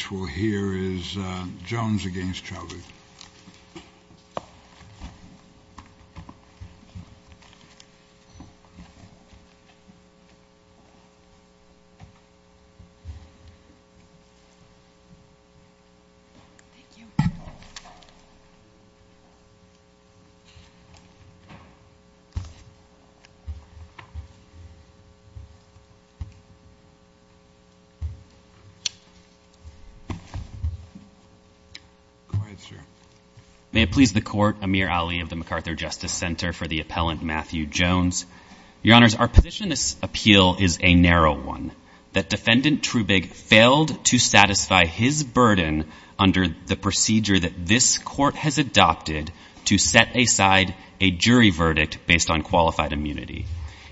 Next we'll hear is Jones v. Chaudhary May it please the Court, Amir Ali of the MacArthur Justice Center, for the appellant Matthew Jones. Your Honors, our position in this appeal is a narrow one. That Defendant Trubig failed to satisfy his burden under the procedure that this Court has adopted to set aside a jury verdict based on qualified immunity.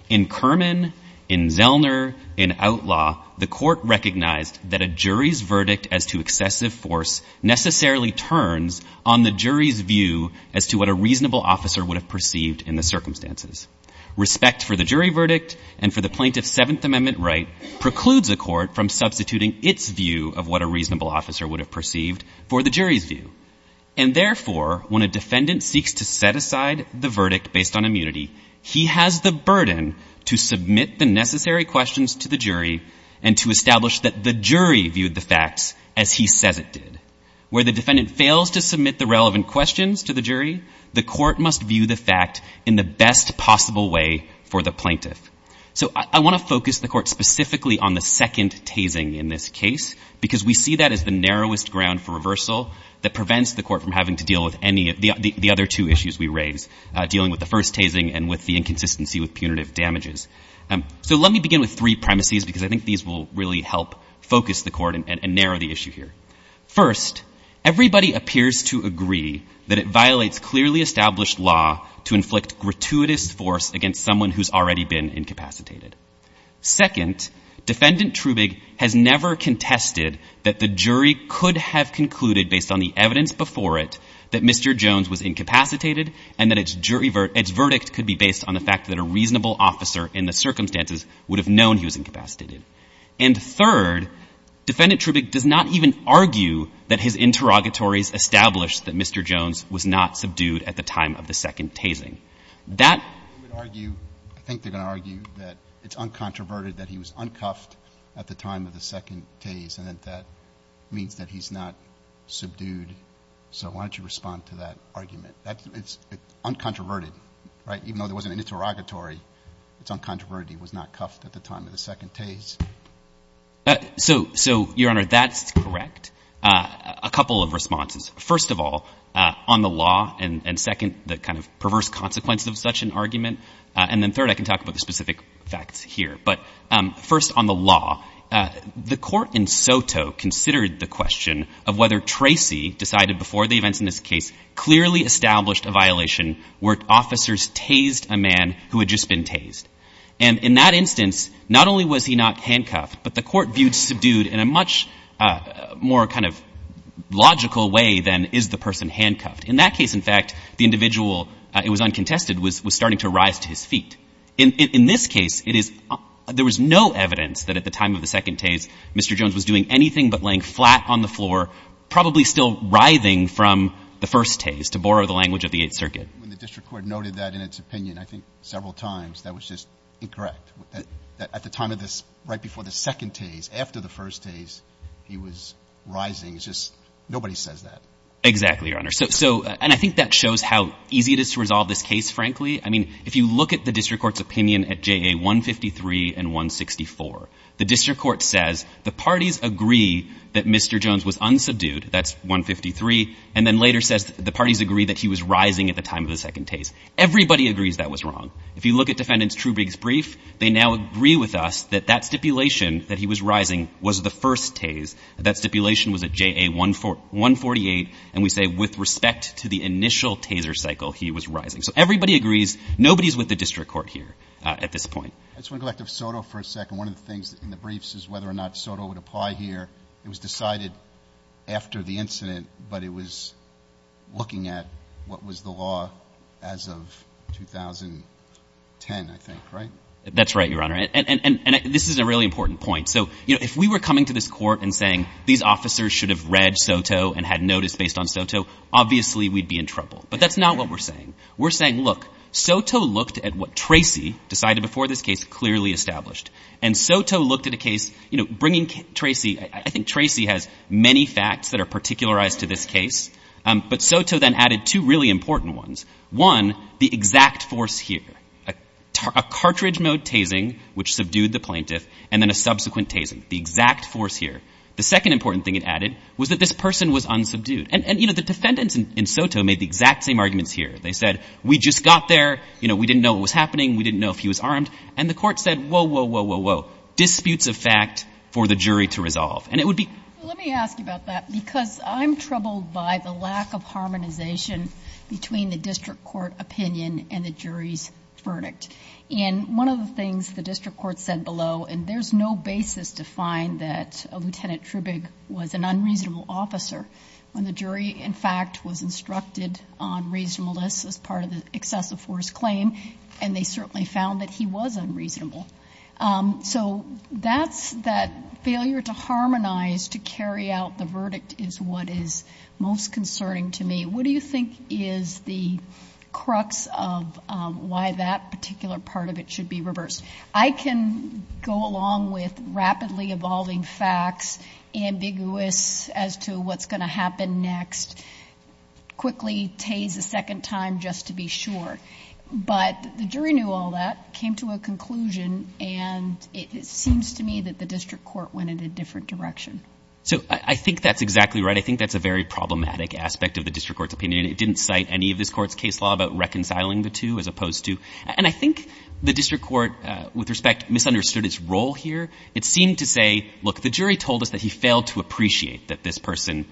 In Kerman, in Zellner, in Outlaw, the Court recognized that a jury's verdict as to excessive force necessarily turns on the jury's view as to what a reasonable officer would have perceived in the circumstances. Respect for the jury verdict and for the plaintiff's Seventh Amendment right precludes a court from substituting its view of what a reasonable officer would have perceived for the jury's view. And therefore, when a defendant seeks to set aside the verdict based on immunity, he has the burden to submit the necessary questions to the jury and to establish that the jury viewed the facts as he says it did. Where the defendant fails to submit the relevant questions to the jury, the court must view the fact in the best possible way for the plaintiff. So I want to focus the Court specifically on the second tasing in this case because we see that as the narrowest ground for reversal that prevents the Court from having to deal with any of the other two issues we raise, dealing with the first tasing and with the inconsistency with punitive damages. So let me begin with three premises because I think these will really help focus the Court and narrow the issue here. First, everybody appears to agree that it violates clearly established law to inflict gratuitous force against someone who's already been incapacitated. Second, Defendant Trubig has never contested that the jury could have concluded based on the evidence before it that Mr. Jones was incapacitated and that its verdict could be based on the fact that a reasonable officer in the circumstances would have known he was incapacitated. And third, Defendant Trubig does not even argue that his interrogatories established that Mr. Jones was not subdued at the time of the second tasing. That argue, I think they're going to argue that it's uncontroverted that he was uncuffed at the time of the second tase and that that means that he's not subdued. So why don't you respond to that argument? It's uncontroverted, right? Even though there wasn't an interrogatory, it's uncontroverted he was not cuffed at the time of the second tase. So, Your Honor, that's correct. A couple of responses. First of all, on the law, and second, the kind of perverse consequence of such an argument, and then third, I can talk about the specific facts here. But first, on the law, the court in Soto considered the question of whether Tracy decided before the events in this case clearly established a violation where officers tased a man who had just been tased. And in that instance, not only was he not handcuffed, but the court viewed subdued in a much more kind of logical way than is the person handcuffed. In that case, in fact, the individual, it was uncontested, was starting to rise to his feet. In this case, it is — there was no evidence that at the time of the second tase, Mr. Jones was doing anything but laying flat on the floor, probably still writhing from the first tase, to borrow the language of the Eighth Circuit. When the district court noted that in its opinion, I think, several times, that was just incorrect. At the time of this, right before the second tase, after the first tase, he was rising. It's just — nobody says that. Exactly, Your Honor. So — and I think that shows how easy it is to resolve this case, frankly. I mean, if you look at the district court's opinion at JA 153 and 164, the district court says the parties agree that Mr. Jones was unsubdued. That's 153. And then later says the parties agree that he was rising at the time of the second tase. Everybody agrees that was wrong. If you look at Defendant Trubig's brief, they now agree with us that that stipulation, that he was rising, was the first tase. That stipulation was at JA 148. And we say with respect to the initial taser cycle, he was rising. So everybody agrees. Nobody is with the district court here at this point. I just want to go back to SOTO for a second. One of the things in the briefs is whether or not SOTO would apply here. It was decided after the incident, but it was looking at what was the law as of 2010, I think, right? That's right, Your Honor. And this is a really important point. So, you know, if we were coming to this court and saying these officers should have read SOTO and had notice based on SOTO, obviously we'd be in trouble. But that's not what we're saying. We're saying, look, SOTO looked at what Tracy decided before this case clearly established. And SOTO looked at a case, you know, bringing Tracy. I think Tracy has many facts that are particularized to this case. But SOTO then added two really important ones. One, the exact force here, a cartridge mode tasing, which subdued the plaintiff, and then a subsequent tasing, the exact force here. The second important thing it added was that this person was unsubdued. And, you know, the defendants in SOTO made the exact same arguments here. They said, we just got there. You know, we didn't know what was happening. We didn't know if he was armed. And the court said, whoa, whoa, whoa, whoa, whoa, disputes of fact for the jury to resolve. And it would be — Let me ask you about that because I'm troubled by the lack of harmonization between the district court opinion and the jury's verdict. And one of the things the district court said below, and there's no basis to find that Lieutenant Trubig was an unreasonable officer, when the jury, in fact, was instructed on reasonableness as part of the excessive force claim, and they certainly found that he was unreasonable. So that's that failure to harmonize, to carry out the verdict, is what is most concerning to me. What do you think is the crux of why that particular part of it should be reversed? I can go along with rapidly evolving facts, ambiguous as to what's going to happen next, quickly tase a second time just to be sure. But the jury knew all that, came to a conclusion, and it seems to me that the district court went in a different direction. So I think that's exactly right. I think that's a very problematic aspect of the district court's opinion. It didn't cite any of this court's case law about reconciling the two as opposed to — and I think the district court, with respect, misunderstood its role here. It seemed to say, look, the jury told us that he failed to appreciate that this person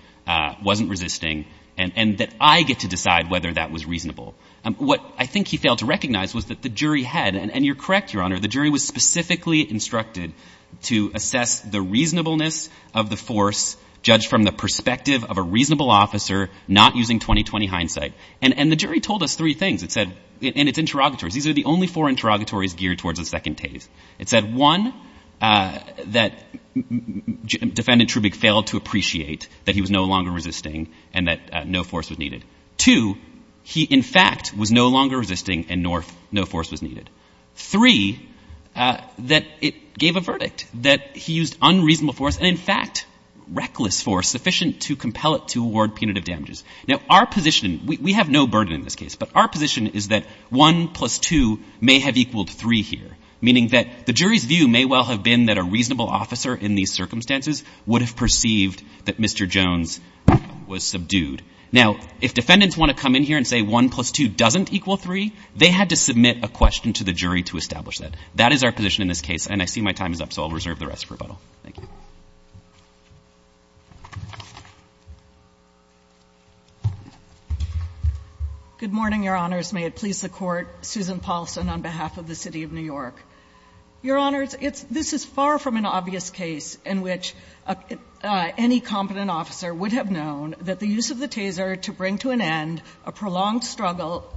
wasn't resisting and that I get to decide whether that was reasonable. What I think he failed to recognize was that the jury had — and you're correct, Your Honor, the jury was specifically instructed to assess the reasonableness of the force judged from the perspective of a reasonable officer, not using 20-20 hindsight. And the jury told us three things. It said — and it's interrogatories. These are the only four interrogatories geared towards the second tase. It said, one, that Defendant Trubig failed to appreciate that he was no longer resisting and that no force was needed. Two, he, in fact, was no longer resisting and no force was needed. Three, that it gave a verdict, that he used unreasonable force and, in fact, reckless force sufficient to compel it to award punitive damages. Now, our position — we have no burden in this case, but our position is that 1 plus 2 may have equaled 3 here, meaning that the jury's view may well have been that a reasonable officer in these circumstances would have perceived that Mr. Jones was subdued. Now, if defendants want to come in here and say 1 plus 2 doesn't equal 3, they had to submit a question to the jury to establish that. That is our position in this case, and I see my time is up, so I'll reserve the rest for rebuttal. Thank you. Good morning, Your Honors. May it please the Court. Susan Paulson on behalf of the City of New York. Your Honors, this is far from an obvious case in which any competent officer would have known that the use of the taser to bring to an end a prolonged struggle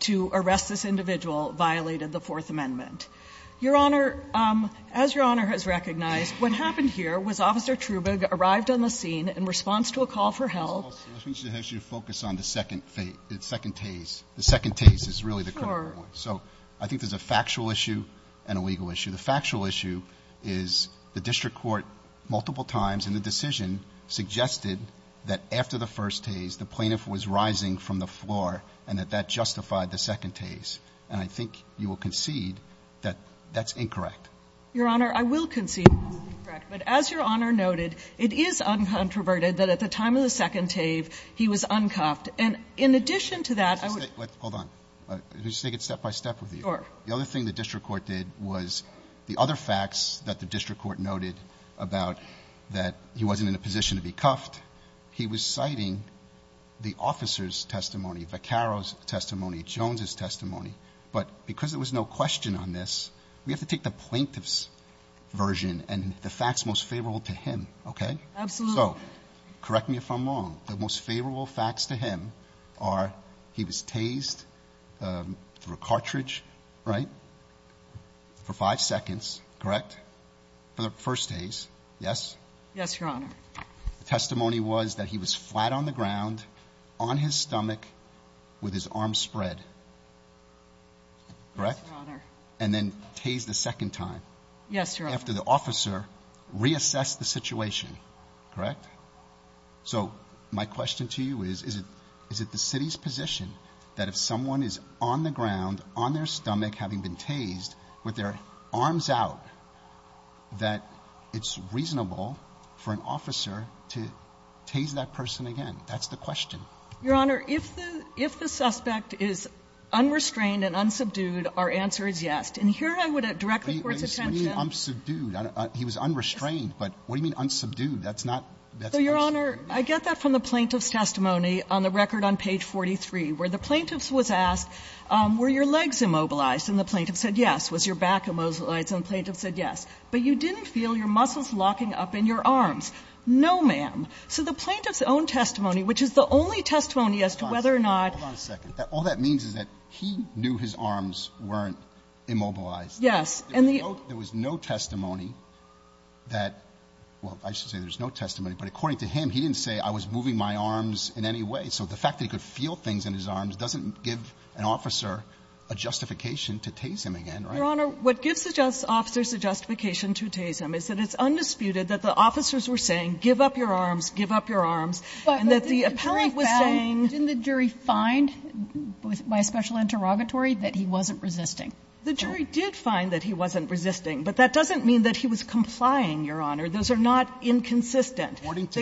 to arrest this individual violated the Fourth Amendment. Your Honor, as Your Honor has recognized, what happened here was Officer Trubig arrived on the scene in response to a call for help. Ms. Paulson, let me ask you to focus on the second phase, the second tase. The second tase is really the critical one. Sure. So I think there's a factual issue and a legal issue. The factual issue is the district court multiple times in the decision suggested that after the first tase, the plaintiff was rising from the floor and that that justified the second tase, and I think you will concede that that's incorrect. Your Honor, I will concede that that's incorrect, but as Your Honor noted, it is uncontroverted that at the time of the second tase, he was uncuffed. And in addition to that, I would say – Hold on. Let me just take it step by step with you. Sure. The other thing the district court did was the other facts that the district court noted about that he wasn't in a position to be cuffed, he was citing the officer's testimony, Vaccaro's testimony, Jones's testimony. But because there was no question on this, we have to take the plaintiff's version and the facts most favorable to him, okay? Absolutely. So correct me if I'm wrong. The most favorable facts to him are he was tased through a cartridge, right, for five seconds, correct? For the first tase, yes? Yes, Your Honor. The testimony was that he was flat on the ground, on his stomach, with his arms spread, correct? Yes, Your Honor. And then tased a second time. Yes, Your Honor. After the officer reassessed the situation, correct? So my question to you is, is it the city's position that if someone is on the ground, on their stomach, having been tased, with their arms out, that it's reasonable for an officer to tase that person again? That's the question. Your Honor, if the suspect is unrestrained and unsubdued, our answer is yes. And here I would direct the Court's attention. What do you mean unsubdued? He was unrestrained. But what do you mean unsubdued? That's not the question. So, Your Honor, I get that from the plaintiff's testimony on the record on page 43, where the plaintiff was asked, were your legs immobilized? And the plaintiff said yes. Was your back immobilized? And the plaintiff said yes. But you didn't feel your muscles locking up in your arms. No, ma'am. So the plaintiff's own testimony, which is the only testimony as to whether or not he knew his arms weren't immobilized. Yes. There was no testimony that, well, I should say there's no testimony, but according to him, he didn't say, I was moving my arms in any way. So the fact that he could feel things in his arms doesn't give an officer a justification to tase him again, right? Your Honor, what gives the officers a justification to tase him is that it's undisputed that the officers were saying, give up your arms, give up your arms, and that the officers were saying by special interrogatory that he wasn't resisting. The jury did find that he wasn't resisting, but that doesn't mean that he was complying, Your Honor. Those are not inconsistent. According to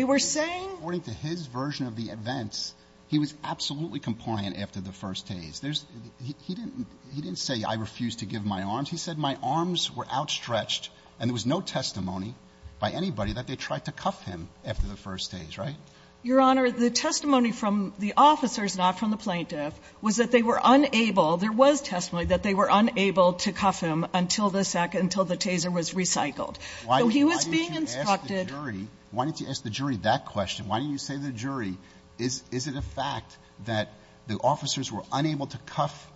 his version of the events, he was absolutely compliant after the first tase. He didn't say, I refuse to give my arms. He said, my arms were outstretched, and there was no testimony by anybody that they tried to cuff him after the first tase, right? Your Honor, the testimony from the officers, not from the plaintiff, was that they were unable, there was testimony that they were unable to cuff him until the second until the taser was recycled. So he was being instructed. Why didn't you ask the jury that question? Why didn't you say to the jury, is it a fact that the officers were unable to cuff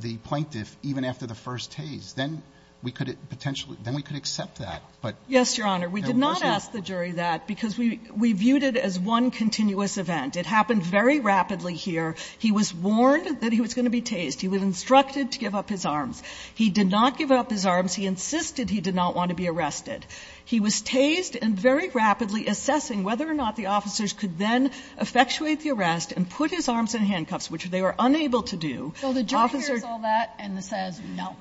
the plaintiff even after the first tase? Then we could potentially, then we could accept that, but there wasn't. I didn't ask the jury that because we viewed it as one continuous event. It happened very rapidly here. He was warned that he was going to be tased. He was instructed to give up his arms. He did not give up his arms. He insisted he did not want to be arrested. He was tased and very rapidly assessing whether or not the officers could then effectuate the arrest and put his arms in handcuffs, which they were unable to do. So the jury hears all that and says, no,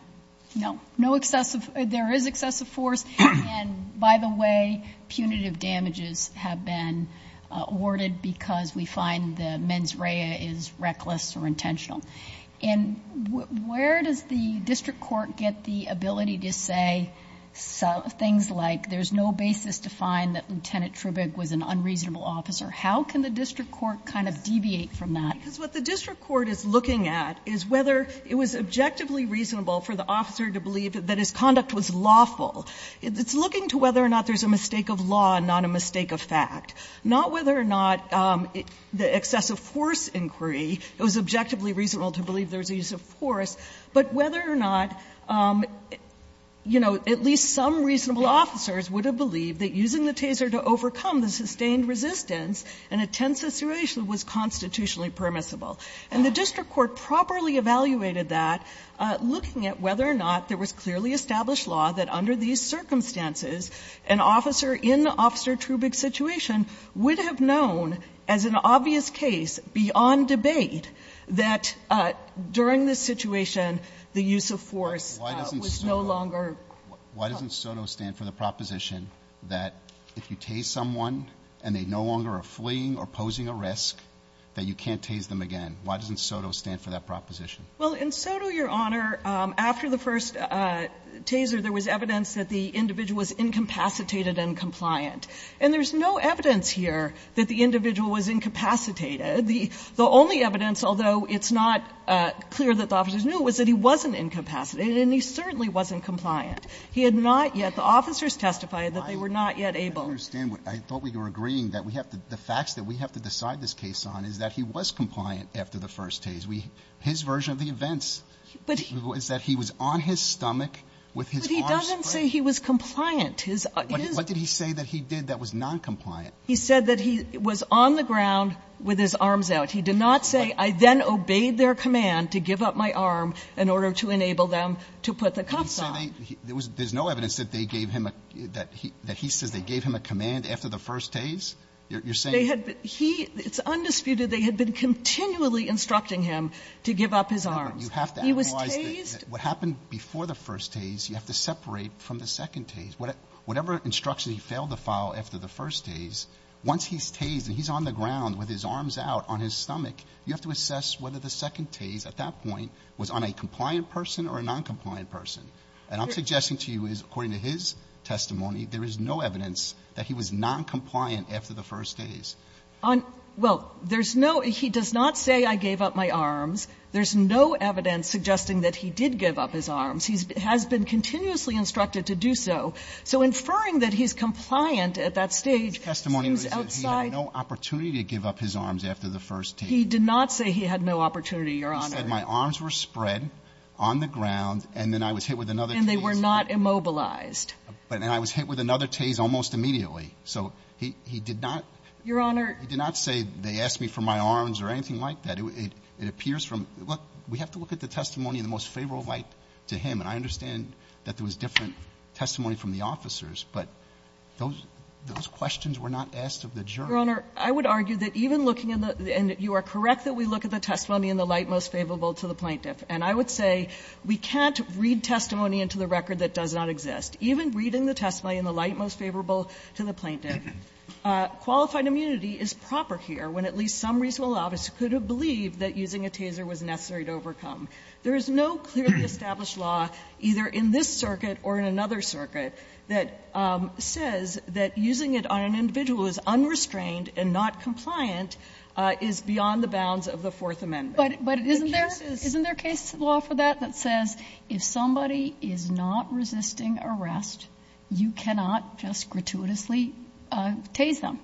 no, no excessive, there is excessive force, and by the way, punitive damages have been awarded because we find the mens rea is reckless or intentional. And where does the district court get the ability to say things like there's no basis to find that Lieutenant Trubig was an unreasonable officer? How can the district court kind of deviate from that? Because what the district court is looking at is whether it was objectively reasonable for the officer to believe that his conduct was lawful. It's looking to whether or not there's a mistake of law and not a mistake of fact. Not whether or not the excessive force inquiry, it was objectively reasonable to believe there was a use of force, but whether or not, you know, at least some reasonable officers would have believed that using the taser to overcome the sustained resistance in a tense situation was constitutionally permissible. And the district court properly evaluated that, looking at whether or not there was clearly established law that under these circumstances, an officer in Officer Trubig's situation would have known as an obvious case beyond debate that during this situation, the use of force was no longer. Alito, why doesn't SOTO stand for the proposition that if you tase someone and they no longer are fleeing or posing a risk, that you can't tase them again? Why doesn't SOTO stand for that proposition? Well, in SOTO, Your Honor, after the first taser, there was evidence that the individual was incapacitated and compliant. And there's no evidence here that the individual was incapacitated. The only evidence, although it's not clear that the officers knew, was that he wasn't incapacitated, and he certainly wasn't compliant. He had not yet the officers testified that they were not yet able. I don't understand. I thought we were agreeing that the facts that we have to decide this case on is that he was compliant after the first tase. His version of the events was that he was on his stomach with his arms spread. But he doesn't say he was compliant. What did he say that he did that was noncompliant? He said that he was on the ground with his arms out. He did not say, I then obeyed their command to give up my arm in order to enable them to put the cuffs on. There's no evidence that they gave him a, that he says they gave him a command after the first tase? You're saying? It's undisputed they had been continually instructing him to give up his arms. He was tased. You have to analyze what happened before the first tase. You have to separate from the second tase. Whatever instruction he failed to follow after the first tase, once he's tased and he's on the ground with his arms out on his stomach, you have to assess whether the second tase at that point was on a compliant person or a noncompliant person. And I'm suggesting to you is, according to his testimony, there is no evidence that he was noncompliant after the first tase. Well, there's no, he does not say I gave up my arms. There's no evidence suggesting that he did give up his arms. He has been continuously instructed to do so. So inferring that he's compliant at that stage seems outside. His testimony was that he had no opportunity to give up his arms after the first tase. He did not say he had no opportunity, Your Honor. He said my arms were spread on the ground and then I was hit with another tase. And they were not immobilized. And I was hit with another tase almost immediately. So he did not. Your Honor. He did not say they asked me for my arms or anything like that. It appears from, look, we have to look at the testimony in the most favorable light to him. And I understand that there was different testimony from the officers, but those questions were not asked of the jury. Your Honor, I would argue that even looking in the, and you are correct that we look at the testimony in the light most favorable to the plaintiff. And I would say we can't read testimony into the record that does not exist. Even reading the testimony in the light most favorable to the plaintiff, qualified immunity is proper here when at least some reasonable officer could have believed that using a taser was necessary to overcome. There is no clearly established law, either in this circuit or in another circuit, that says that using it on an individual who is unrestrained and not compliant is beyond the bounds of the Fourth Amendment. But isn't there a case law for that, that says if somebody is not resisting arrest, you cannot just gratuitously tase them?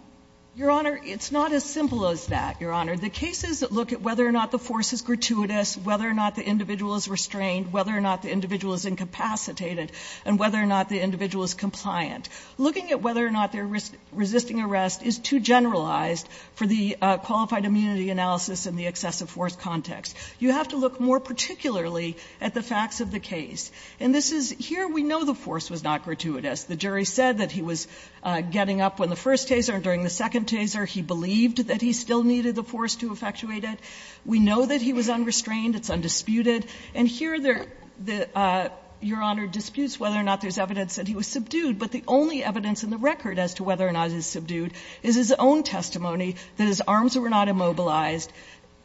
Your Honor, it's not as simple as that, Your Honor. The cases that look at whether or not the force is gratuitous, whether or not the individual is restrained, whether or not the individual is incapacitated, and whether or not the individual is compliant. Looking at whether or not they are resisting arrest is too generalized for the qualified immunity analysis in the excessive force context. You have to look more particularly at the facts of the case. And this is, here we know the force was not gratuitous. The jury said that he was getting up when the first taser and during the second taser he believed that he still needed the force to effectuate it. We know that he was unrestrained. It's undisputed. And here there are, Your Honor, disputes whether or not there is evidence that he was subdued, and the only evidence in the record as to whether or not he was subdued is his own testimony that his arms were not immobilized,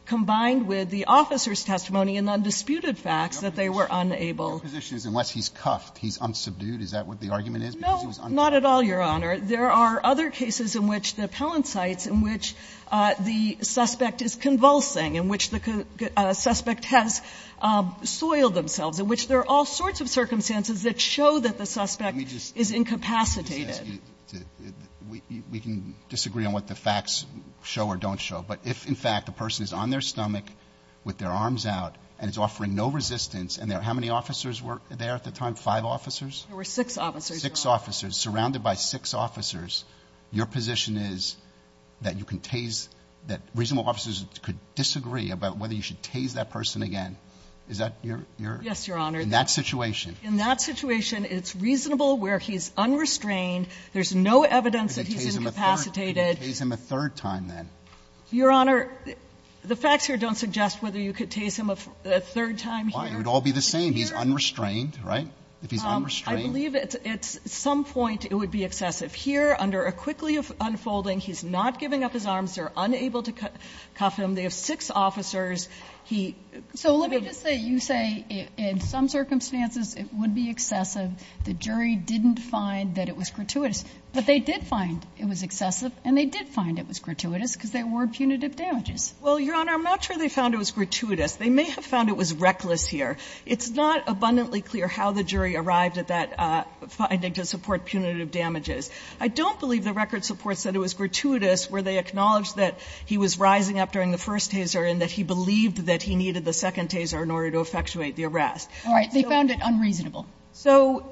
combined with the officer's testimony and undisputed facts that they were unable. Roberts. Your position is unless he's cuffed, he's unsubdued? Is that what the argument is? Because he was unsubdued. No, not at all, Your Honor. There are other cases in which the appellant cites in which the suspect is convulsing, in which the suspect has soiled themselves, in which there are all sorts of circumstances that show that the suspect is incapacitated. Let me just ask you. We can disagree on what the facts show or don't show. But if, in fact, the person is on their stomach with their arms out and is offering no resistance, and there are how many officers were there at the time, five officers? There were six officers, Your Honor. Six officers. Surrounded by six officers, your position is that you can tase, that reasonable officers could disagree about whether you should tase that person again. Is that your? Yes, Your Honor. In that situation. In that situation, it's reasonable where he's unrestrained. There's no evidence that he's incapacitated. You could tase him a third time, then. Your Honor, the facts here don't suggest whether you could tase him a third time here. Why? It would all be the same. He's unrestrained, right? If he's unrestrained. I believe at some point it would be excessive. Here, under a quickly unfolding, he's not giving up his arms. They're unable to cuff him. They have six officers. So let me just say, you say in some circumstances it would be excessive. The jury didn't find that it was gratuitous. But they did find it was excessive and they did find it was gratuitous because there were punitive damages. Well, Your Honor, I'm not sure they found it was gratuitous. They may have found it was reckless here. It's not abundantly clear how the jury arrived at that finding to support punitive damages. I don't believe the record supports that it was gratuitous where they acknowledged that he was rising up during the first taser and that he believed that he needed the second taser in order to effectuate the arrest. All right. They found it unreasonable. So,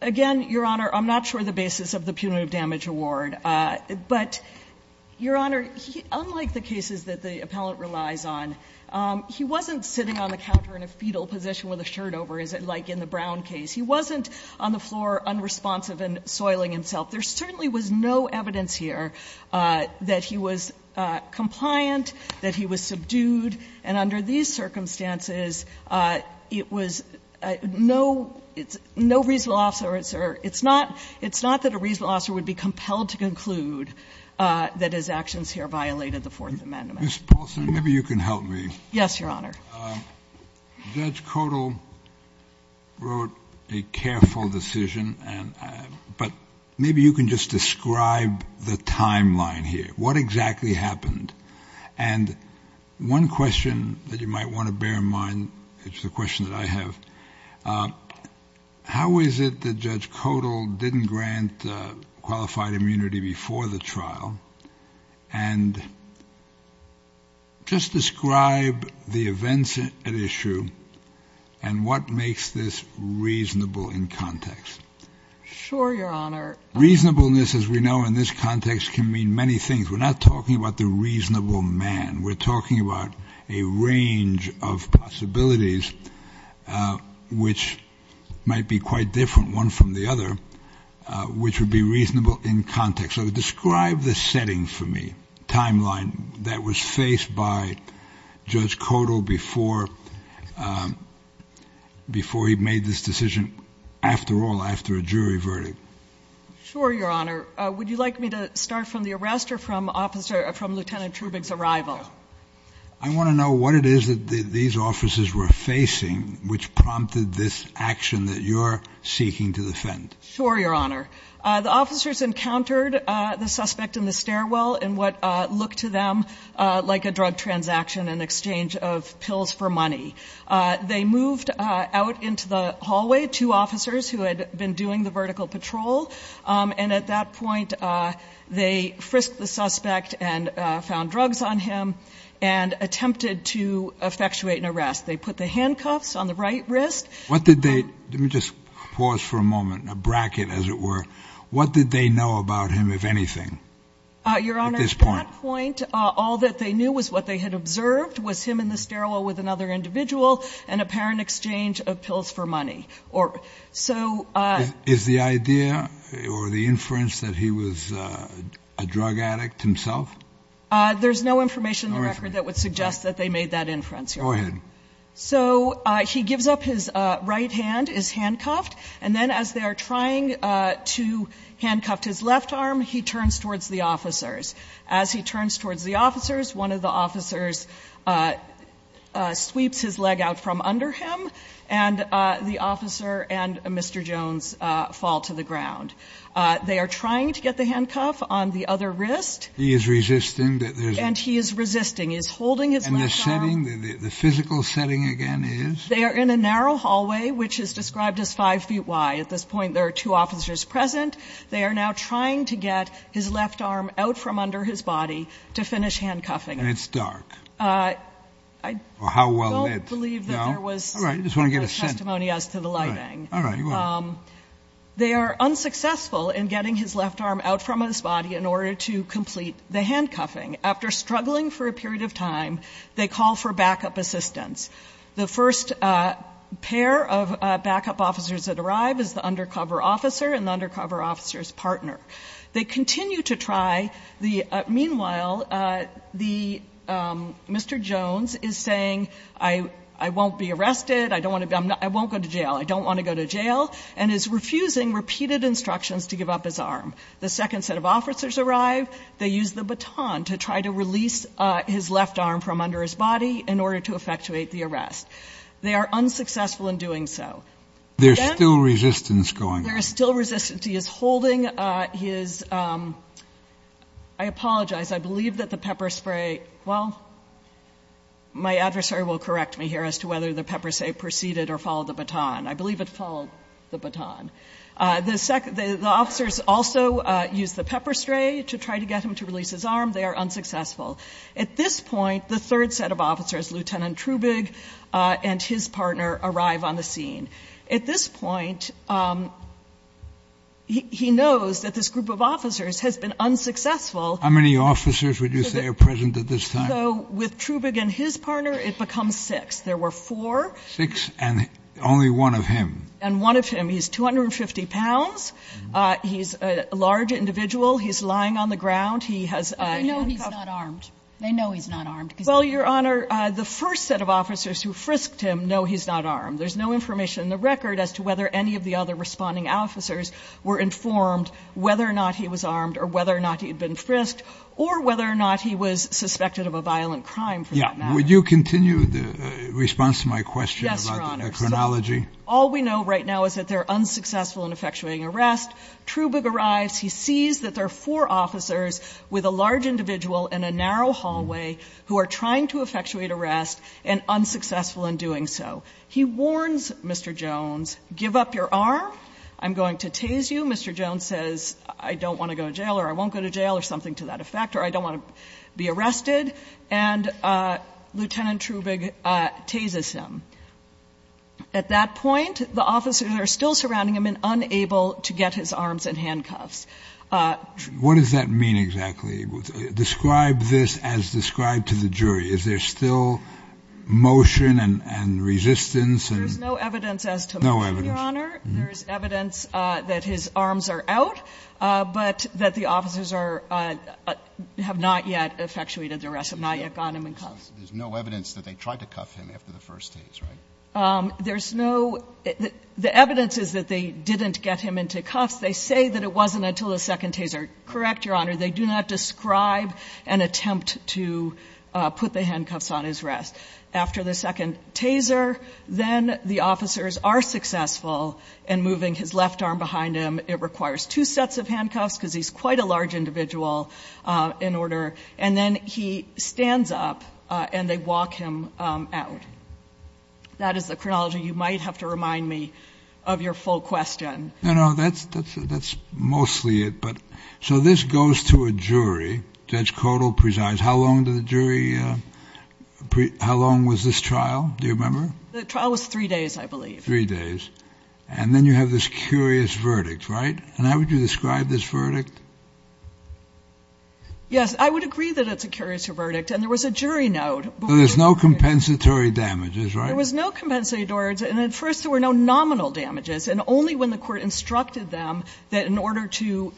again, Your Honor, I'm not sure the basis of the punitive damage award. But, Your Honor, unlike the cases that the appellant relies on, he wasn't sitting on the counter in a fetal position with a shirt over, as it's like in the Brown case. He wasn't on the floor unresponsive and soiling himself. There certainly was no evidence here that he was compliant, that he was subdued. And under these circumstances, it was no reasonable officer. It's not that a reasonable officer would be compelled to conclude that his actions here violated the Fourth Amendment. Mr. Paulson, maybe you can help me. Yes, Your Honor. Judge Codall wrote a careful decision. But maybe you can just describe the timeline here. What exactly happened? And one question that you might want to bear in mind, which is a question that I have, how is it that Judge Codall didn't grant qualified immunity before the trial? And just describe the events at issue and what makes this reasonable in context. Sure, Your Honor. Reasonableness, as we know in this context, can mean many things. We're not talking about the reasonable man. We're talking about a range of possibilities, which might be quite different, one from the other, which would be reasonable in context. So describe the setting for me, timeline, that was faced by Judge Codall before he made this decision, after all, after a jury verdict. Sure, Your Honor. Would you like me to start from the arrest or from Lieutenant Trubig's arrival? I want to know what it is that these officers were facing which prompted this action that you're seeking to defend. Sure, Your Honor. The officers encountered the suspect in the stairwell in what looked to them like a drug transaction in exchange of pills for money. They moved out into the hallway, two officers who had been doing the vertical patrol, and at that point they frisked the suspect and found drugs on him and attempted to effectuate an arrest. They put the handcuffs on the right wrist. Let me just pause for a moment, a bracket, as it were. What did they know about him, if anything, at this point? Your Honor, at that point, all that they knew was what they had observed was him in the stairwell with another individual in apparent exchange of pills for money. Is the idea or the inference that he was a drug addict himself? There's no information in the record that would suggest that they made that inference, Your Honor. Go ahead. So he gives up his right hand, is handcuffed, and then as they are trying to handcuff his left arm, he turns towards the officers. As he turns towards the officers, one of the officers sweeps his leg out from under him, and the officer and Mr. Jones fall to the ground. They are trying to get the handcuff on the other wrist. He is resisting. And he is resisting. He is holding his left arm. And the setting, the physical setting, again, is? They are in a narrow hallway, which is described as five feet wide. At this point, there are two officers present. They are now trying to get his left arm out from under his body to finish handcuffing him. And it's dark. I don't believe that there was testimony as to the lighting. All right. I just want to get a sense. All right. Go ahead. They are unsuccessful in getting his left arm out from his body in order to complete the handcuffing. After struggling for a period of time, they call for backup assistance. The first pair of backup officers that arrive is the undercover officer and the undercover officer's partner. They continue to try. Meanwhile, Mr. Jones is saying, I won't be arrested. I won't go to jail. I don't want to go to jail, and is refusing repeated instructions to give up his arm. The second set of officers arrive. They use the baton to try to release his left arm from under his body in order to effectuate the arrest. They are unsuccessful in doing so. There is still resistance going on. There is still resistance. He is holding his – I apologize. I believe that the pepper spray – well, my adversary will correct me here as to whether the pepper spray proceeded or followed the baton. I believe it followed the baton. The officers also use the pepper spray to try to get him to release his arm. They are unsuccessful. At this point, the third set of officers, Lieutenant Trubig and his partner, arrive on the scene. At this point, he knows that this group of officers has been unsuccessful. How many officers would you say are present at this time? With Trubig and his partner, it becomes six. There were four. Six and only one of him. And one of him. He's 250 pounds. He's a large individual. He's lying on the ground. He has handcuffs. They know he's not armed. They know he's not armed. Well, Your Honor, the first set of officers who frisked him know he's not armed. There's no information in the record as to whether any of the other responding officers were informed whether or not he was armed or whether or not he had been frisked or whether or not he was suspected of a violent crime for that matter. Would you continue the response to my question about the chronology? Yes, Your Honor. All we know right now is that they're unsuccessful in effectuating arrest. Trubig arrives. He sees that there are four officers with a large individual in a narrow hallway who are trying to effectuate arrest and unsuccessful in doing so. He warns Mr. Jones, give up your arm. I'm going to tase you. Mr. Jones says, I don't want to go to jail or I won't go to jail or something to that effect or I don't want to be arrested. And Lieutenant Trubig tases him. At that point, the officers are still surrounding him and unable to get his arms and handcuffs. What does that mean exactly? Describe this as described to the jury. Is there still motion and resistance? There's no evidence as to that, Your Honor. There's evidence that his arms are out, but that the officers are – have not yet effectuated the arrest, have not yet gotten him in cuffs. There's no evidence that they tried to cuff him after the first tase, right? There's no – the evidence is that they didn't get him into cuffs. They say that it wasn't until the second taser. Correct, Your Honor. They do not describe an attempt to put the handcuffs on his wrist. After the second taser, then the officers are successful in moving his left arm behind him. It requires two sets of handcuffs because he's quite a large individual in order. And then he stands up and they walk him out. That is the chronology you might have to remind me of your full question. No, no. That's mostly it. So this goes to a jury. Judge Codall presides. How long did the jury – how long was this trial? Do you remember? The trial was three days, I believe. Three days. And then you have this curious verdict, right? And how would you describe this verdict? Yes. I would agree that it's a curious verdict. And there was a jury note. So there's no compensatory damages, right? There was no compensatory damages. And at first, there were no nominal damages. And only when the court instructed them that in order to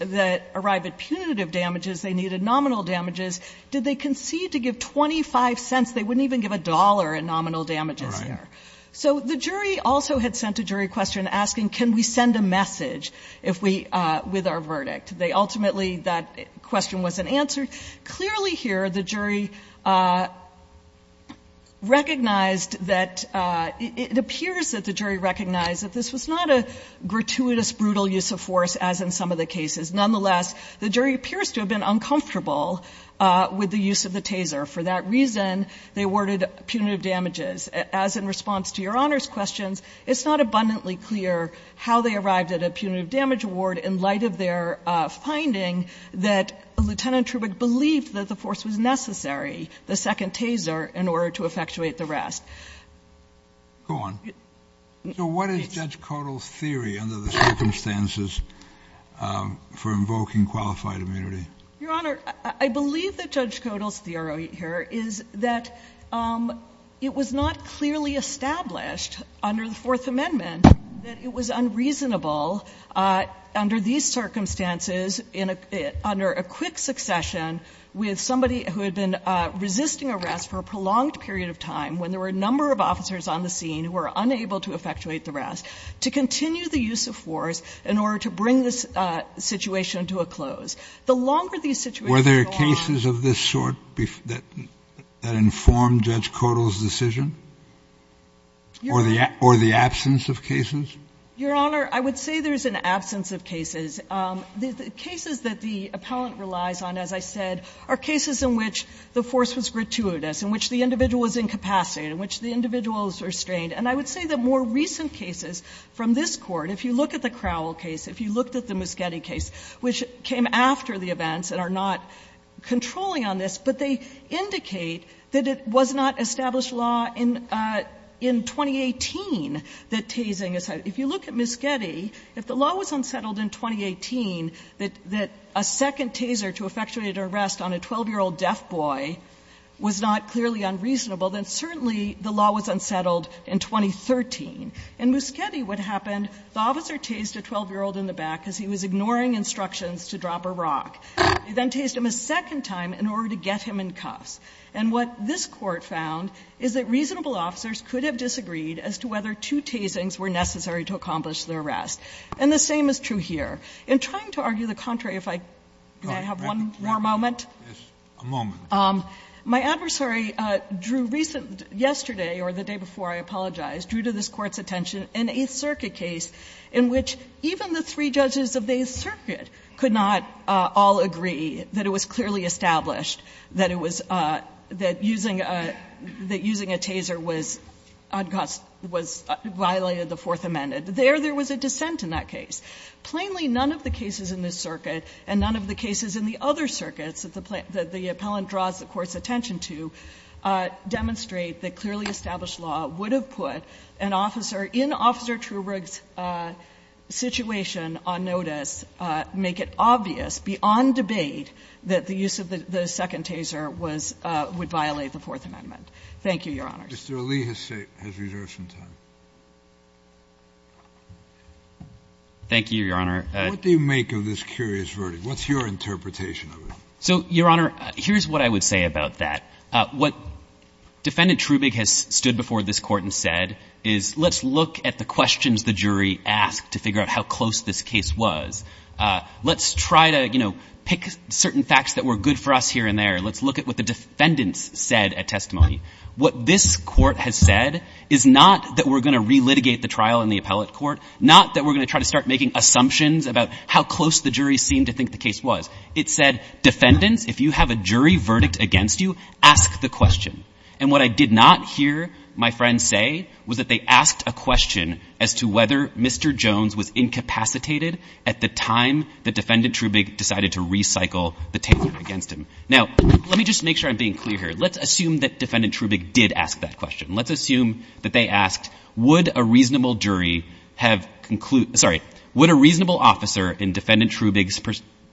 arrive at punitive damages, they needed nominal damages, did they concede to give 25 cents. They wouldn't even give a dollar in nominal damages there. All right. So the jury also had sent a jury question asking can we send a message if we – with our verdict. They ultimately – that question wasn't answered. Clearly here, the jury recognized that – it appears that the jury recognized that this was not a gratuitous, brutal use of force as in some of the cases. Nonetheless, the jury appears to have been uncomfortable with the use of the taser. For that reason, they awarded punitive damages. As in response to Your Honor's questions, it's not abundantly clear how they finding that Lieutenant Trubach believed that the force was necessary, the second taser, in order to effectuate the rest. Go on. So what is Judge Codall's theory under the circumstances for invoking qualified immunity? Your Honor, I believe that Judge Codall's theory here is that it was not clearly established under the Fourth Amendment that it was unreasonable under these circumstances under a quick succession with somebody who had been resisting arrest for a prolonged period of time when there were a number of officers on the scene who were unable to effectuate the rest to continue the use of force in order to bring this situation to a close. The longer these situations go on – Were there cases of this sort that informed Judge Codall's decision or the absence of cases? Your Honor, I would say there's an absence of cases. The cases that the appellant relies on, as I said, are cases in which the force was gratuitous, in which the individual was incapacitated, in which the individual was restrained. And I would say that more recent cases from this Court, if you look at the Crowell case, if you looked at the Muschietti case, which came after the events and are not controlling on this, but they indicate that it was not established law in 2018 that tasing is held. If you look at Muschietti, if the law was unsettled in 2018 that a second taser to effectuate an arrest on a 12-year-old deaf boy was not clearly unreasonable, then certainly the law was unsettled in 2013. In Muschietti, what happened, the officer tased a 12-year-old in the back because he was ignoring instructions to drop a rock. He then tased him a second time in order to get him in cuffs. And what this Court found is that reasonable officers could have disagreed as to whether two tasings were necessary to accomplish the arrest. And the same is true here. In trying to argue the contrary, if I could have one more moment. Kennedy, yes, a moment. My adversary drew recent yesterday, or the day before, I apologize, drew to this Court's attention an Eighth Circuit case in which even the three judges of the Eighth Circuit could not all agree that it was clearly established that it was using a taser that violated the Fourth Amendment. There, there was a dissent in that case. Plainly, none of the cases in this circuit and none of the cases in the other circuits that the appellant draws the Court's attention to demonstrate that clearly established law would have put an officer in Officer Trubrig's situation on notice, make it obvious beyond debate that the use of the second taser would violate the Fourth Amendment. Thank you, Your Honor. Mr. Ali has reserved some time. Thank you, Your Honor. What do you make of this curious verdict? What's your interpretation of it? So, Your Honor, here's what I would say about that. What Defendant Trubrig has stood before this Court and said is let's look at the questions the jury asked to figure out how close this case was. Let's try to, you know, pick certain facts that were good for us here and there. Let's look at what the defendants said at testimony. What this Court has said is not that we're going to relitigate the trial in the appellate court, not that we're going to try to start making assumptions about how close the jury seemed to think the case was. It said, defendants, if you have a jury verdict against you, ask the question. And what I did not hear my friends say was that they asked a question as to whether Mr. Jones was incapacitated at the time that Defendant Trubrig decided to recycle the taser against him. Now, let me just make sure I'm being clear here. Let's assume that Defendant Trubrig did ask that question. Let's assume that they asked, would a reasonable jury have, sorry, would a reasonable officer in Defendant Trubrig's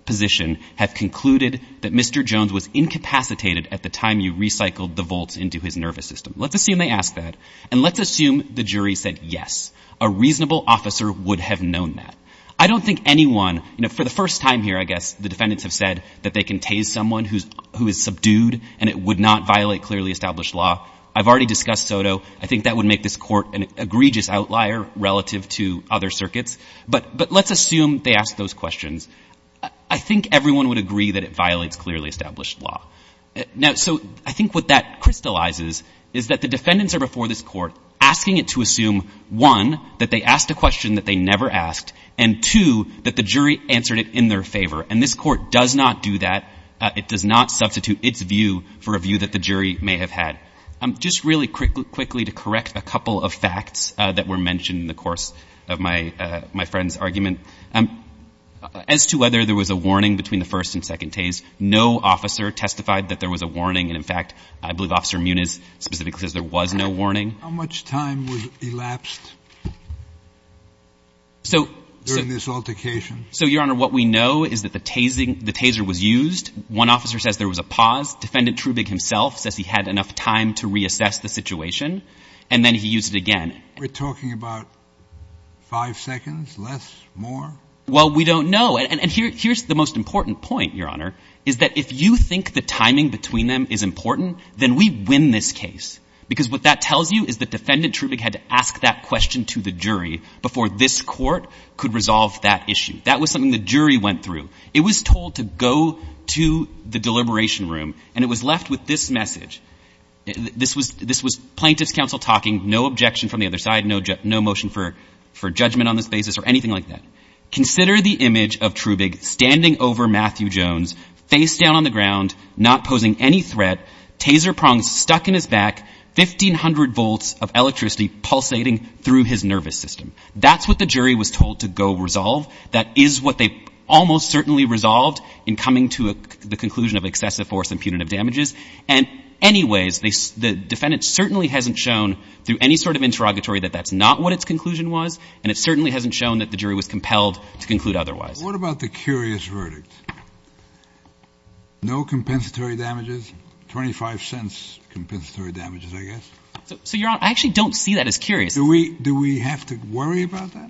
position have concluded that Mr. Jones was incapacitated at the time you recycled the volts into his nervous system? Let's assume they asked that. And let's assume the jury said, yes, a reasonable officer would have known that. I don't think anyone, you know, for the first time here, I guess, the defendants have said that they can tase someone who is subdued and it would not violate clearly established law. I've already discussed SOTO. I think that would make this court an egregious outlier relative to other circuits. But let's assume they asked those questions. I think everyone would agree that it violates clearly established law. Now, so I think what that crystallizes is that the defendants are before this court asking it to assume, one, that they asked a question that they never asked, and, two, that the jury answered it in their favor. And this court does not do that. It does not substitute its view for a view that the jury may have had. Just really quickly to correct a couple of facts that were mentioned in the course of my friend's argument, as to whether there was a warning between the first and second tase, no officer testified that there was a warning. And, in fact, I believe Officer Muniz specifically says there was no warning. How much time was elapsed during this altercation? So, Your Honor, what we know is that the taser was used. One officer says there was a pause. Defendant Trubig himself says he had enough time to reassess the situation. And then he used it again. We're talking about five seconds? Less? More? Well, we don't know. And here's the most important point, Your Honor, is that if you think the timing between them is important, then we win this case. Because what that tells you is that Defendant Trubig had to ask that question to the jury. That was something the jury went through. It was told to go to the deliberation room, and it was left with this message. This was plaintiff's counsel talking, no objection from the other side, no motion for judgment on this basis or anything like that. Consider the image of Trubig standing over Matthew Jones, face down on the ground, not posing any threat, taser prongs stuck in his back, 1,500 volts of electricity pulsating through his nervous system. That's what the jury was told to go resolve. That is what they almost certainly resolved in coming to the conclusion of excessive force and punitive damages. And anyways, the defendant certainly hasn't shown through any sort of interrogatory that that's not what its conclusion was, and it certainly hasn't shown that the jury was compelled to conclude otherwise. What about the curious verdict? No compensatory damages, 25 cents compensatory damages, I guess? So, Your Honor, I actually don't see that as curious. Do we have to worry about that?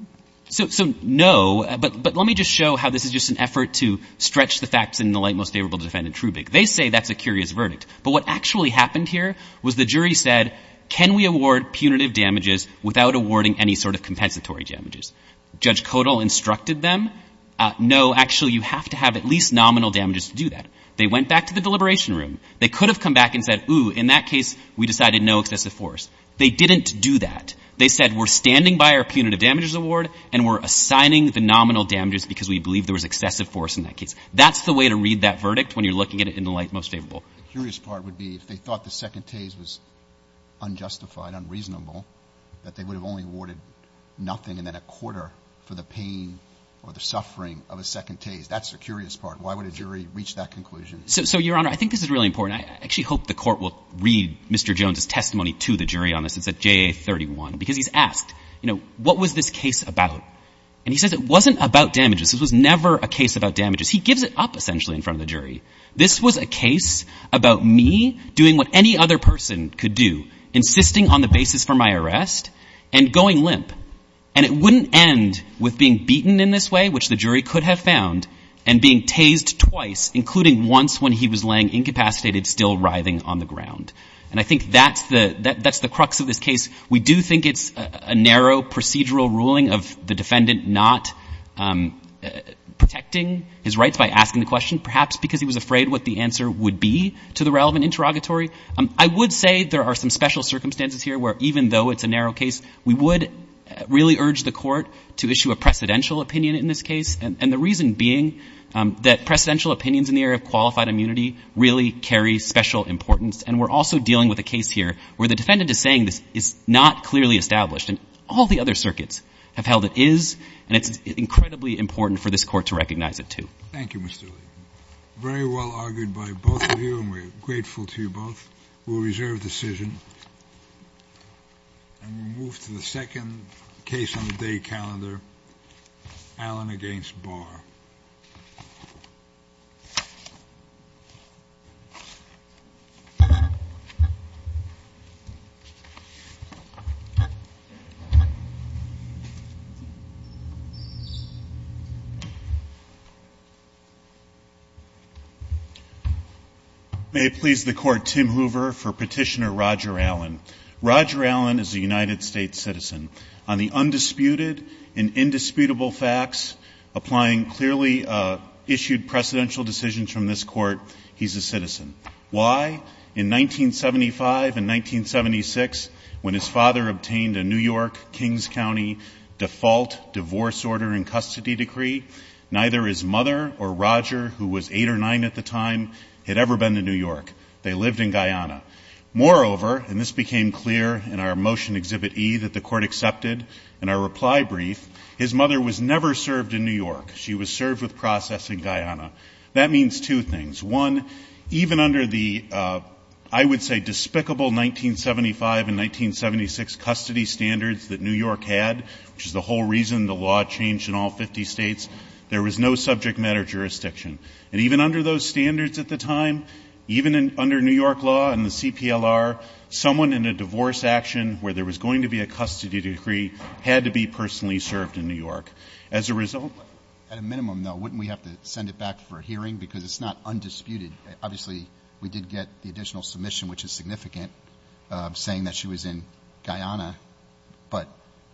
So, no, but let me just show how this is just an effort to stretch the facts in the light most favorable to Defendant Trubig. They say that's a curious verdict, but what actually happened here was the jury said, can we award punitive damages without awarding any sort of compensatory damages? Judge Kodal instructed them, no, actually, you have to have at least nominal damages to do that. They went back to the deliberation room. They could have come back and said, ooh, in that case, we decided no excessive force. They didn't do that. They said, we're standing by our punitive damages award, and we're assigning the nominal damages because we believe there was excessive force in that case. That's the way to read that verdict when you're looking at it in the light most favorable. The curious part would be if they thought the second tase was unjustified, unreasonable, that they would have only awarded nothing and then a quarter for the pain or the suffering of a second tase. That's the curious part. Why would a jury reach that conclusion? So, Your Honor, I think this is really important. I actually hope the Court will read Mr. Jones's testimony to the jury on this. It's at JA31, because he's asked, you know, what was this case about? And he says it wasn't about damages. This was never a case about damages. He gives it up, essentially, in front of the jury. This was a case about me doing what any other person could do, insisting on the basis for my arrest and going limp. And it wouldn't end with being beaten in this way, which the jury could have found, and being tased twice, including once when he was laying incapacitated, still writhing on the ground. And I think that's the crux of this case. We do think it's a narrow procedural ruling of the defendant not protecting his rights by asking the question, perhaps because he was afraid what the answer would be to the relevant interrogatory. I would say there are some special circumstances here where, even though it's a narrow case, we would really urge the Court to issue a precedential opinion in this case, and the reason being that precedential opinions in the area of where the defendant is saying this is not clearly established. And all the other circuits have held it is, and it's incredibly important for this Court to recognize it, too. Thank you, Mr. Lee. Very well argued by both of you, and we're grateful to you both. We'll reserve decision. And we'll move to the second case on the day calendar, Allen v. Barr. May it please the Court, Tim Hoover for Petitioner Roger Allen. Roger Allen is a United States citizen. On the undisputed and indisputable facts applying clearly issued precedential decisions from this Court, he's a citizen. Why? In 1975 and 1976, when his father obtained a New York, Kings County default divorce order and custody decree, neither his mother or Roger, who was eight or nine at the time, had ever been to New York. They lived in Guyana. Moreover, and this became clear in our Motion Exhibit E that the Court accepted, in our reply brief, his mother was never served in New York. She was served with process in Guyana. That means two things. One, even under the, I would say, despicable 1975 and 1976 custody standards that New York had, which is the whole reason the law changed in all 50 states, there was no subject matter jurisdiction. And even under those standards at the time, even under New York law and the CPLR, someone in a divorce action where there was going to be a custody decree had to be personally served in New York. As a result, at a minimum, though, wouldn't we have to send it back for hearing because it's not undisputed? Obviously, we did get the additional submission, which is significant, saying that she was in Guyana, but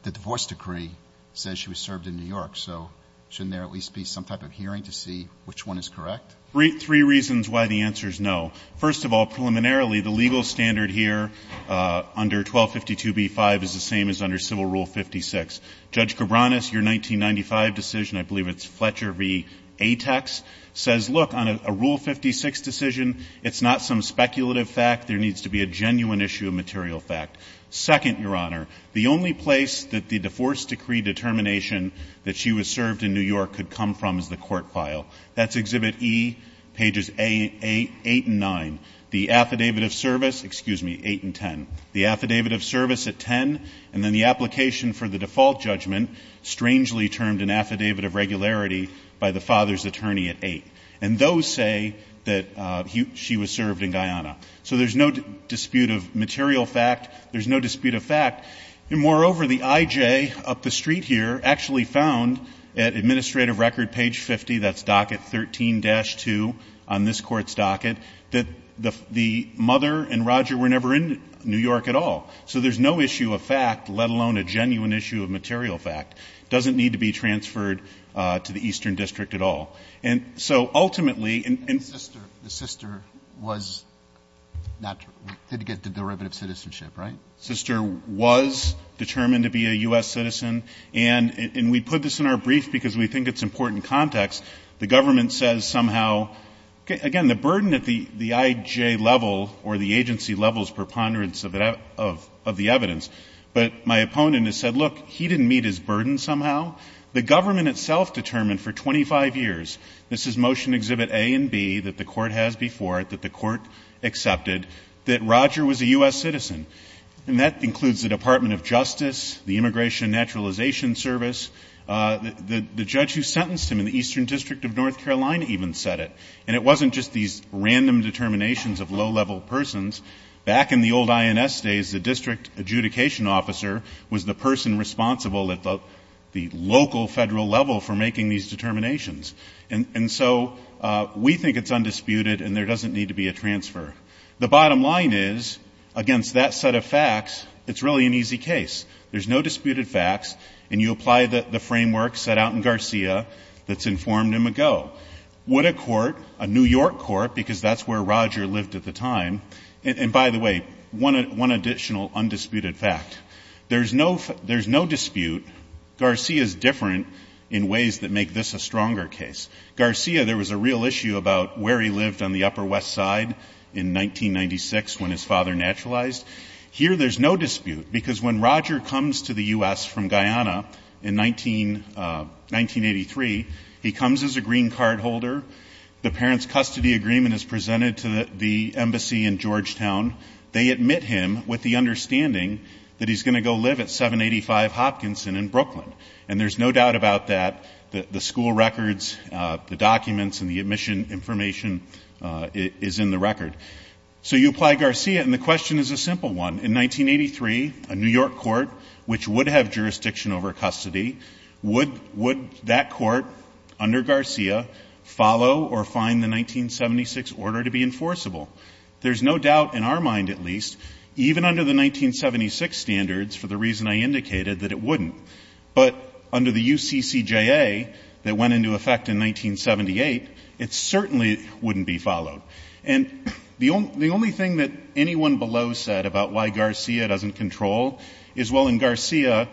the divorce decree says she was served in New York. So shouldn't there at least be some type of hearing to see which one is correct? Three reasons why the answer is no. First of all, preliminarily, the legal standard here under 1252b-5 is the same as under Civil Rule 56. Judge Cabranes, your 1995 decision, I believe it's Fletcher v. Tex, says, look, on a Rule 56 decision, it's not some speculative fact. There needs to be a genuine issue of material fact. Second, Your Honor, the only place that the divorce decree determination that she was served in New York could come from is the court file. That's Exhibit E, pages 8 and 9. The affidavit of service, excuse me, 8 and 10. The affidavit of service at 10, and then the application for the default judgment, strangely termed an affidavit of regularity by the father's attorney at 8. And those say that she was served in Guyana. So there's no dispute of material fact. There's no dispute of fact. And moreover, the I.J. up the street here actually found at administrative record page 50, that's docket 13-2 on this Court's docket, that the mother and Roger were never in New York at all. So there's no issue of fact, let alone a genuine issue of material fact. It doesn't need to be transferred to the Eastern District at all. And so ultimately, and the sister was not to get the derivative citizenship, right? Sister was determined to be a U.S. citizen. And we put this in our brief because we think it's important context. The government says somehow, again, the burden at the I.J. level or the agency level's preponderance of the evidence. But my opponent has said, look, he didn't meet his burden somehow. The government itself determined for 25 years, this is Motion Exhibit A and B that the Court has before it, that the Court accepted, that Roger was a U.S. citizen. And that includes the Department of Justice, the Immigration Naturalization Service. The judge who sentenced him in the Eastern District of North Carolina even said it. And it wasn't just these random determinations of low-level persons. Back in the old INS days, the district adjudication officer was the person responsible at the local federal level for making these determinations. And so we think it's undisputed and there doesn't need to be a transfer. The bottom line is, against that set of facts, it's really an easy case. There's no disputed facts. And you apply the framework set out in Garcia that's informed him ago. Would a court, a New York court, because that's where Roger lived at the time and, by the way, one additional undisputed fact. There's no dispute. Garcia is different in ways that make this a stronger case. Garcia, there was a real issue about where he lived on the Upper West Side in 1996 when his father naturalized. Here there's no dispute because when Roger comes to the U.S. from Guyana in 1983, he comes as a green card holder. The parents' custody agreement is presented to the embassy in Georgetown. They admit him with the understanding that he's going to go live at 785 Hopkinson in Brooklyn. And there's no doubt about that. The school records, the documents, and the admission information is in the record. So you apply Garcia, and the question is a simple one. In 1983, a New York court, which would have jurisdiction over custody, would that court under Garcia follow or find the 1976 order to be enforceable? There's no doubt, in our mind at least, even under the 1976 standards, for the reason I indicated, that it wouldn't. But under the UCCJA that went into effect in 1978, it certainly wouldn't be followed. And the only thing that anyone below said about why Garcia doesn't control is, well, in Garcia,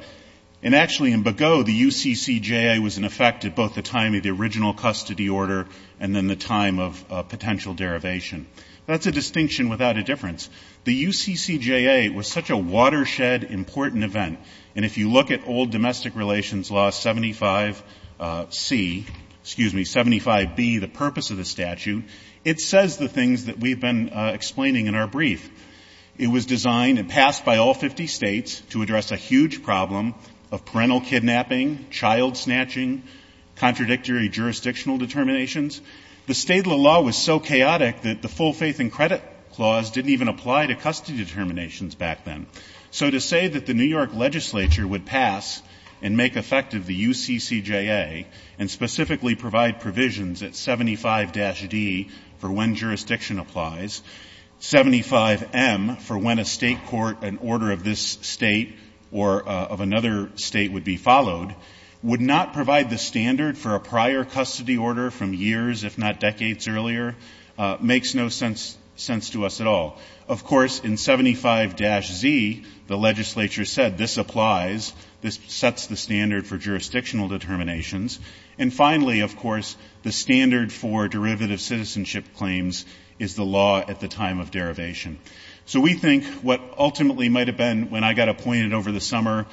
and actually in Begaud, the UCCJA was in effect at both the time of the original custody order and then the time of potential derivation. That's a distinction without a difference. The UCCJA was such a watershed, important event. And if you look at old domestic relations law 75C, excuse me, 75B, the purpose of the statute, it says the things that we've been explaining in our brief. It was designed and passed by all 50 states to address a huge problem of parental kidnapping, child snatching, contradictory jurisdictional determinations. The state law was so chaotic that the full faith and credit clause didn't even apply to custody determinations back then. So to say that the New York legislature would pass and make effective the UCCJA and specifically provide provisions at 75-D for when jurisdiction applies, 75-M for when a state court, an order of this state or of another state would be followed, would not provide the standard for a prior custody order from years, if not decades earlier, makes no sense to us at all. Of course, in 75-Z, the legislature said this applies, this sets the standard for jurisdictional determinations. And finally, of course, the standard for derivative citizenship claims is the law at the time of derivation. So we think what ultimately might have been, when I got appointed over the summer,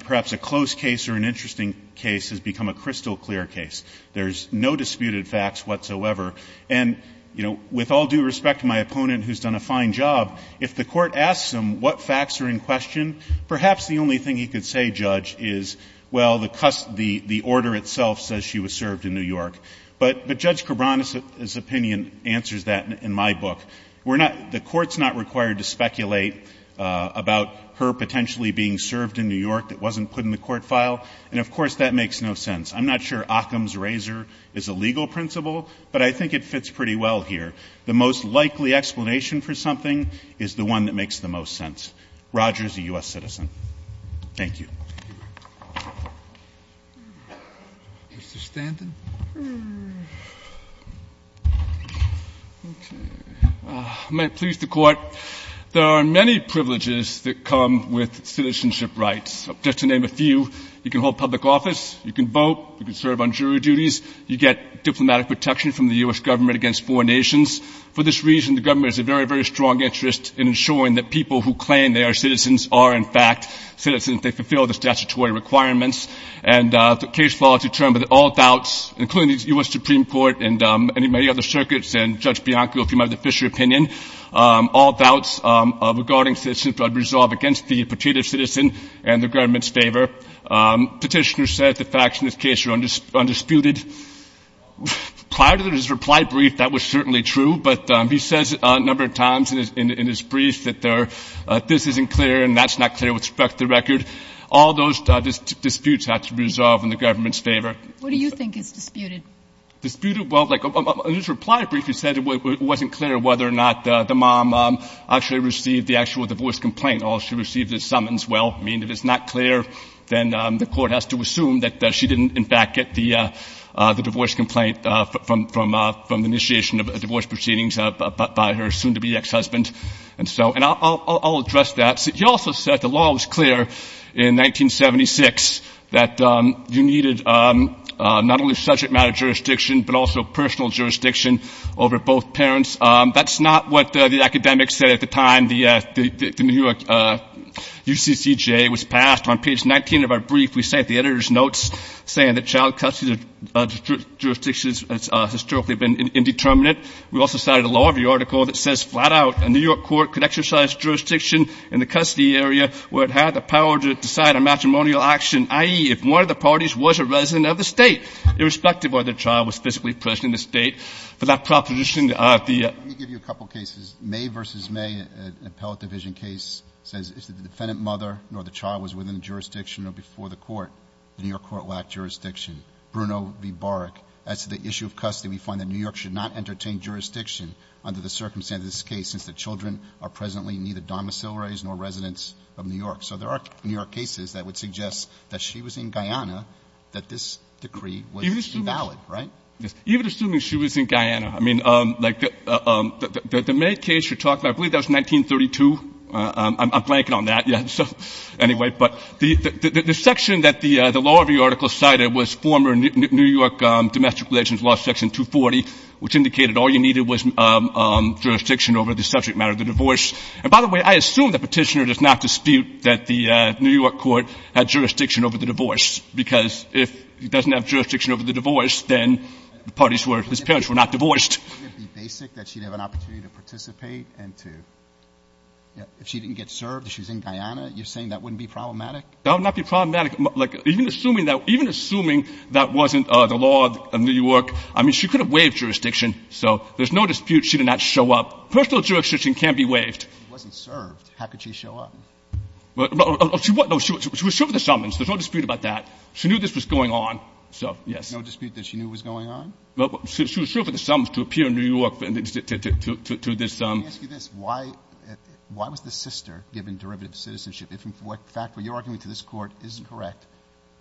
perhaps a close case or an interesting case has become a crystal clear case. There's no disputed facts whatsoever. And, you know, with all due respect to my opponent, who's done a fine job, if the court asks him what facts are in question, perhaps the only thing he could say, Judge, is, well, the order itself says she was served in New York. But Judge Cabran's opinion answers that in my book. The court's not required to speculate about her potentially being served in New York that wasn't put in the court file. And, of course, that makes no sense. I'm not sure Occam's razor is a legal principle, but I think it fits pretty well here. The most likely explanation for something is the one that makes the most sense. Roger is a U.S. citizen. Thank you. Mr. Stanton. Okay. May it please the Court. There are many privileges that come with citizenship rights. Just to name a few, you can hold public office, you can vote, you can serve on jury duties, you get diplomatic protection from the U.S. government against foreign nations. For this reason, the government has a very, very strong interest in ensuring that people who claim they are citizens are, in fact, citizens. They fulfill the statutory requirements. And the case law determines that all doubts, including the U.S. Supreme Court and many other circuits and Judge Bianco, if you remember the Fisher opinion, all doubts regarding citizenship are resolved against the pretreative citizen and the government's favor. Petitioner said the facts in this case are undisputed. Prior to his reply brief, that was certainly true, but he says a number of times in his brief that this isn't clear and that's not clear with respect to the record. All those disputes have to be resolved in the government's favor. What do you think is disputed? Disputed? Well, like in his reply brief he said it wasn't clear whether or not the mom actually received the actual divorce complaint. All she received is summons. Well, I mean, if it's not clear, then the court has to assume that she didn't, in fact, get the divorce complaint from the initiation of divorce proceedings by her soon-to-be ex-husband. And so I'll address that. He also said the law was clear in 1976 that you needed not only subject matter jurisdiction, but also personal jurisdiction over both parents. That's not what the academics said at the time the New York UCCJ was passed. On page 19 of our brief, we cite the editor's notes saying that child custody jurisdiction has historically been indeterminate. We also cited a law review article that says flat out a New York court could exercise jurisdiction in the custody area where it had the power to decide on matrimonial action, i.e., if one of the parties was a resident of the state, irrespective of whether the child was physically present in the state. For that proposition, the ---- Let me give you a couple of cases. May v. May, an appellate division case, says if the defendant mother nor the child was within jurisdiction or before the court, the New York court lacked jurisdiction. Bruno v. Barg, as to the issue of custody, we find that New York should not entertain jurisdiction under the circumstances of this case since the children are presently neither domiciliaries nor residents of New York. So there are New York cases that would suggest that she was in Guyana, that this decree was invalid, right? Even assuming she was in Guyana. I mean, like the May case you're talking about, I believe that was 1932. I'm blanking on that yet. So anyway, but the section that the law review article cited was former New York domestic relations law section 240, which indicated all you needed was jurisdiction over the subject matter of the divorce. And by the way, I assume the petitioner does not dispute that the New York court had jurisdiction over the divorce because if he doesn't have jurisdiction over the divorce, then the parties were his parents were not divorced. If she didn't get served, if she's in Guyana, you're saying that wouldn't be problematic? That would not be problematic. Like, even assuming that wasn't the law of New York, I mean, she could have waived jurisdiction, so there's no dispute she did not show up. Personal jurisdiction can be waived. If she wasn't served, how could she show up? No, she was served with a summons. There's no dispute about that. She knew this was going on. So, yes. No dispute that she knew it was going on? She was served with a summons to appear in New York to this. Let me ask you this. Why was the sister given derivative citizenship? If in fact what you're arguing to this Court is correct,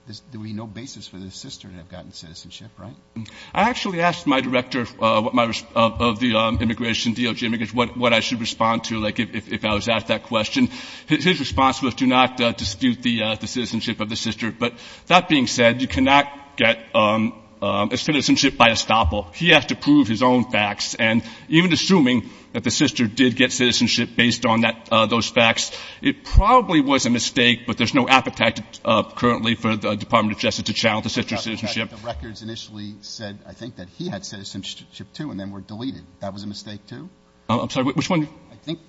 there would be no basis for the sister to have gotten citizenship, right? I actually asked my director of the immigration, DOJ immigration, what I should respond to, like, if I was asked that question. His response was do not dispute the citizenship of the sister. But that being said, you cannot get citizenship by estoppel. He has to prove his own facts. And even assuming that the sister did get citizenship based on those facts, it probably was a mistake, but there's no appetite currently for the Department of Justice to challenge the sister's citizenship. The records initially said, I think, that he had citizenship, too, and then were deleted. That was a mistake, too? I'm sorry. Which one? I think,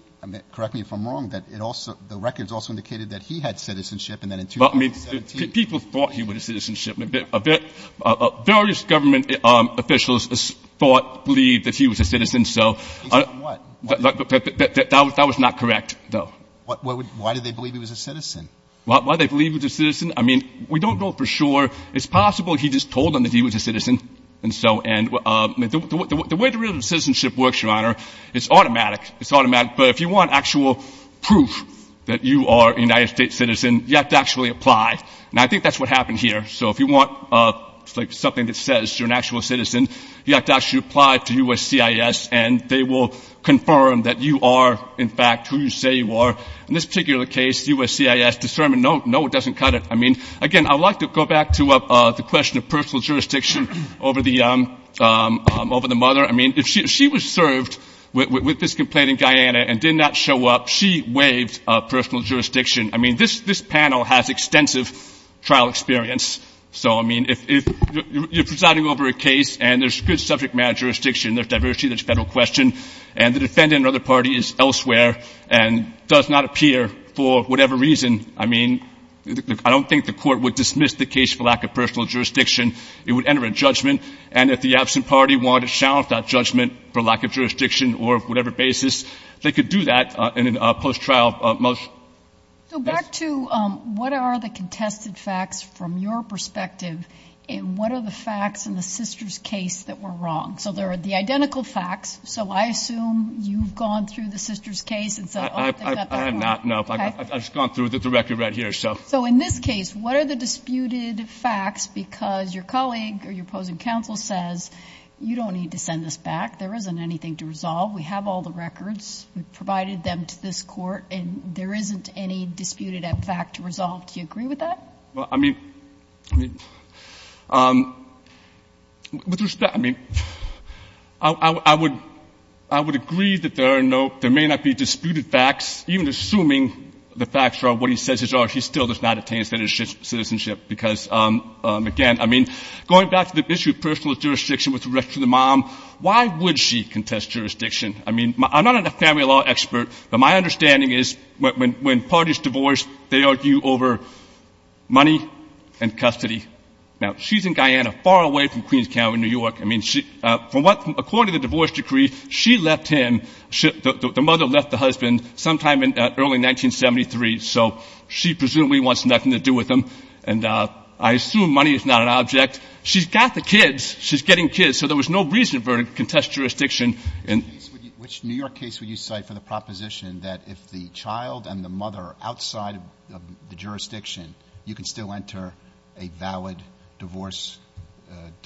correct me if I'm wrong, that it also — the records also indicated that he had citizenship, and then in 2017 — Well, I mean, people thought he would have citizenship. Various government officials thought, believed that he was a citizen, so — Based on what? That was not correct, though. Why did they believe he was a citizen? Why did they believe he was a citizen? I mean, we don't know for sure. It's possible he just told them that he was a citizen, and so — and the way the rule of citizenship works, Your Honor, it's automatic. It's automatic. But if you want actual proof that you are a United States citizen, you have to actually apply. And I think that's what happened here. So if you want something that says you're an actual citizen, you have to actually apply to USCIS, and they will confirm that you are, in fact, who you say you are. In this particular case, USCIS determined, no, it doesn't cut it. I mean, again, I'd like to go back to the question of personal jurisdiction over the mother. I mean, if she was served with this complaint in Guyana and did not show up, she waived personal jurisdiction. I mean, this panel has extensive trial experience. So, I mean, if you're presiding over a case and there's good subject matter jurisdiction, there's diversity, there's federal question, and the defendant or other party is elsewhere and does not appear for whatever reason, I mean, I don't think the court would dismiss the case for lack of personal jurisdiction. It would enter a judgment. And if the absent party wanted to challenge that judgment for lack of jurisdiction or whatever basis, they could do that in a post-trial motion. So back to what are the contested facts from your perspective, and what are the facts in the sister's case that were wrong? So there are the identical facts. So I assume you've gone through the sister's case. I have not, no. I've just gone through the record right here. So in this case, what are the disputed facts? Because your colleague or your opposing counsel says you don't need to send this back. There isn't anything to resolve. We have all the records. We've provided them to this Court, and there isn't any disputed fact to resolve. Do you agree with that? Well, I mean, with respect, I mean, I would agree that there are no, there may not be disputed facts. Even assuming the facts are what he says are, he still does not attain citizenship. Because, again, I mean, going back to the issue of personal jurisdiction with respect to the mom, why would she contest jurisdiction? I mean, I'm not a family law expert, but my understanding is when parties divorce, they argue over money and custody. Now, she's in Guyana, far away from Queens County, New York. I mean, according to the divorce decree, she left him, the mother left the husband sometime in early 1973. So she presumably wants nothing to do with him. And I assume money is not an object. She's got the kids. She's getting kids. So there was no reason for her to contest jurisdiction. Which New York case would you cite for the proposition that if the child and the mother are outside of the jurisdiction, you can still enter a valid divorce decree?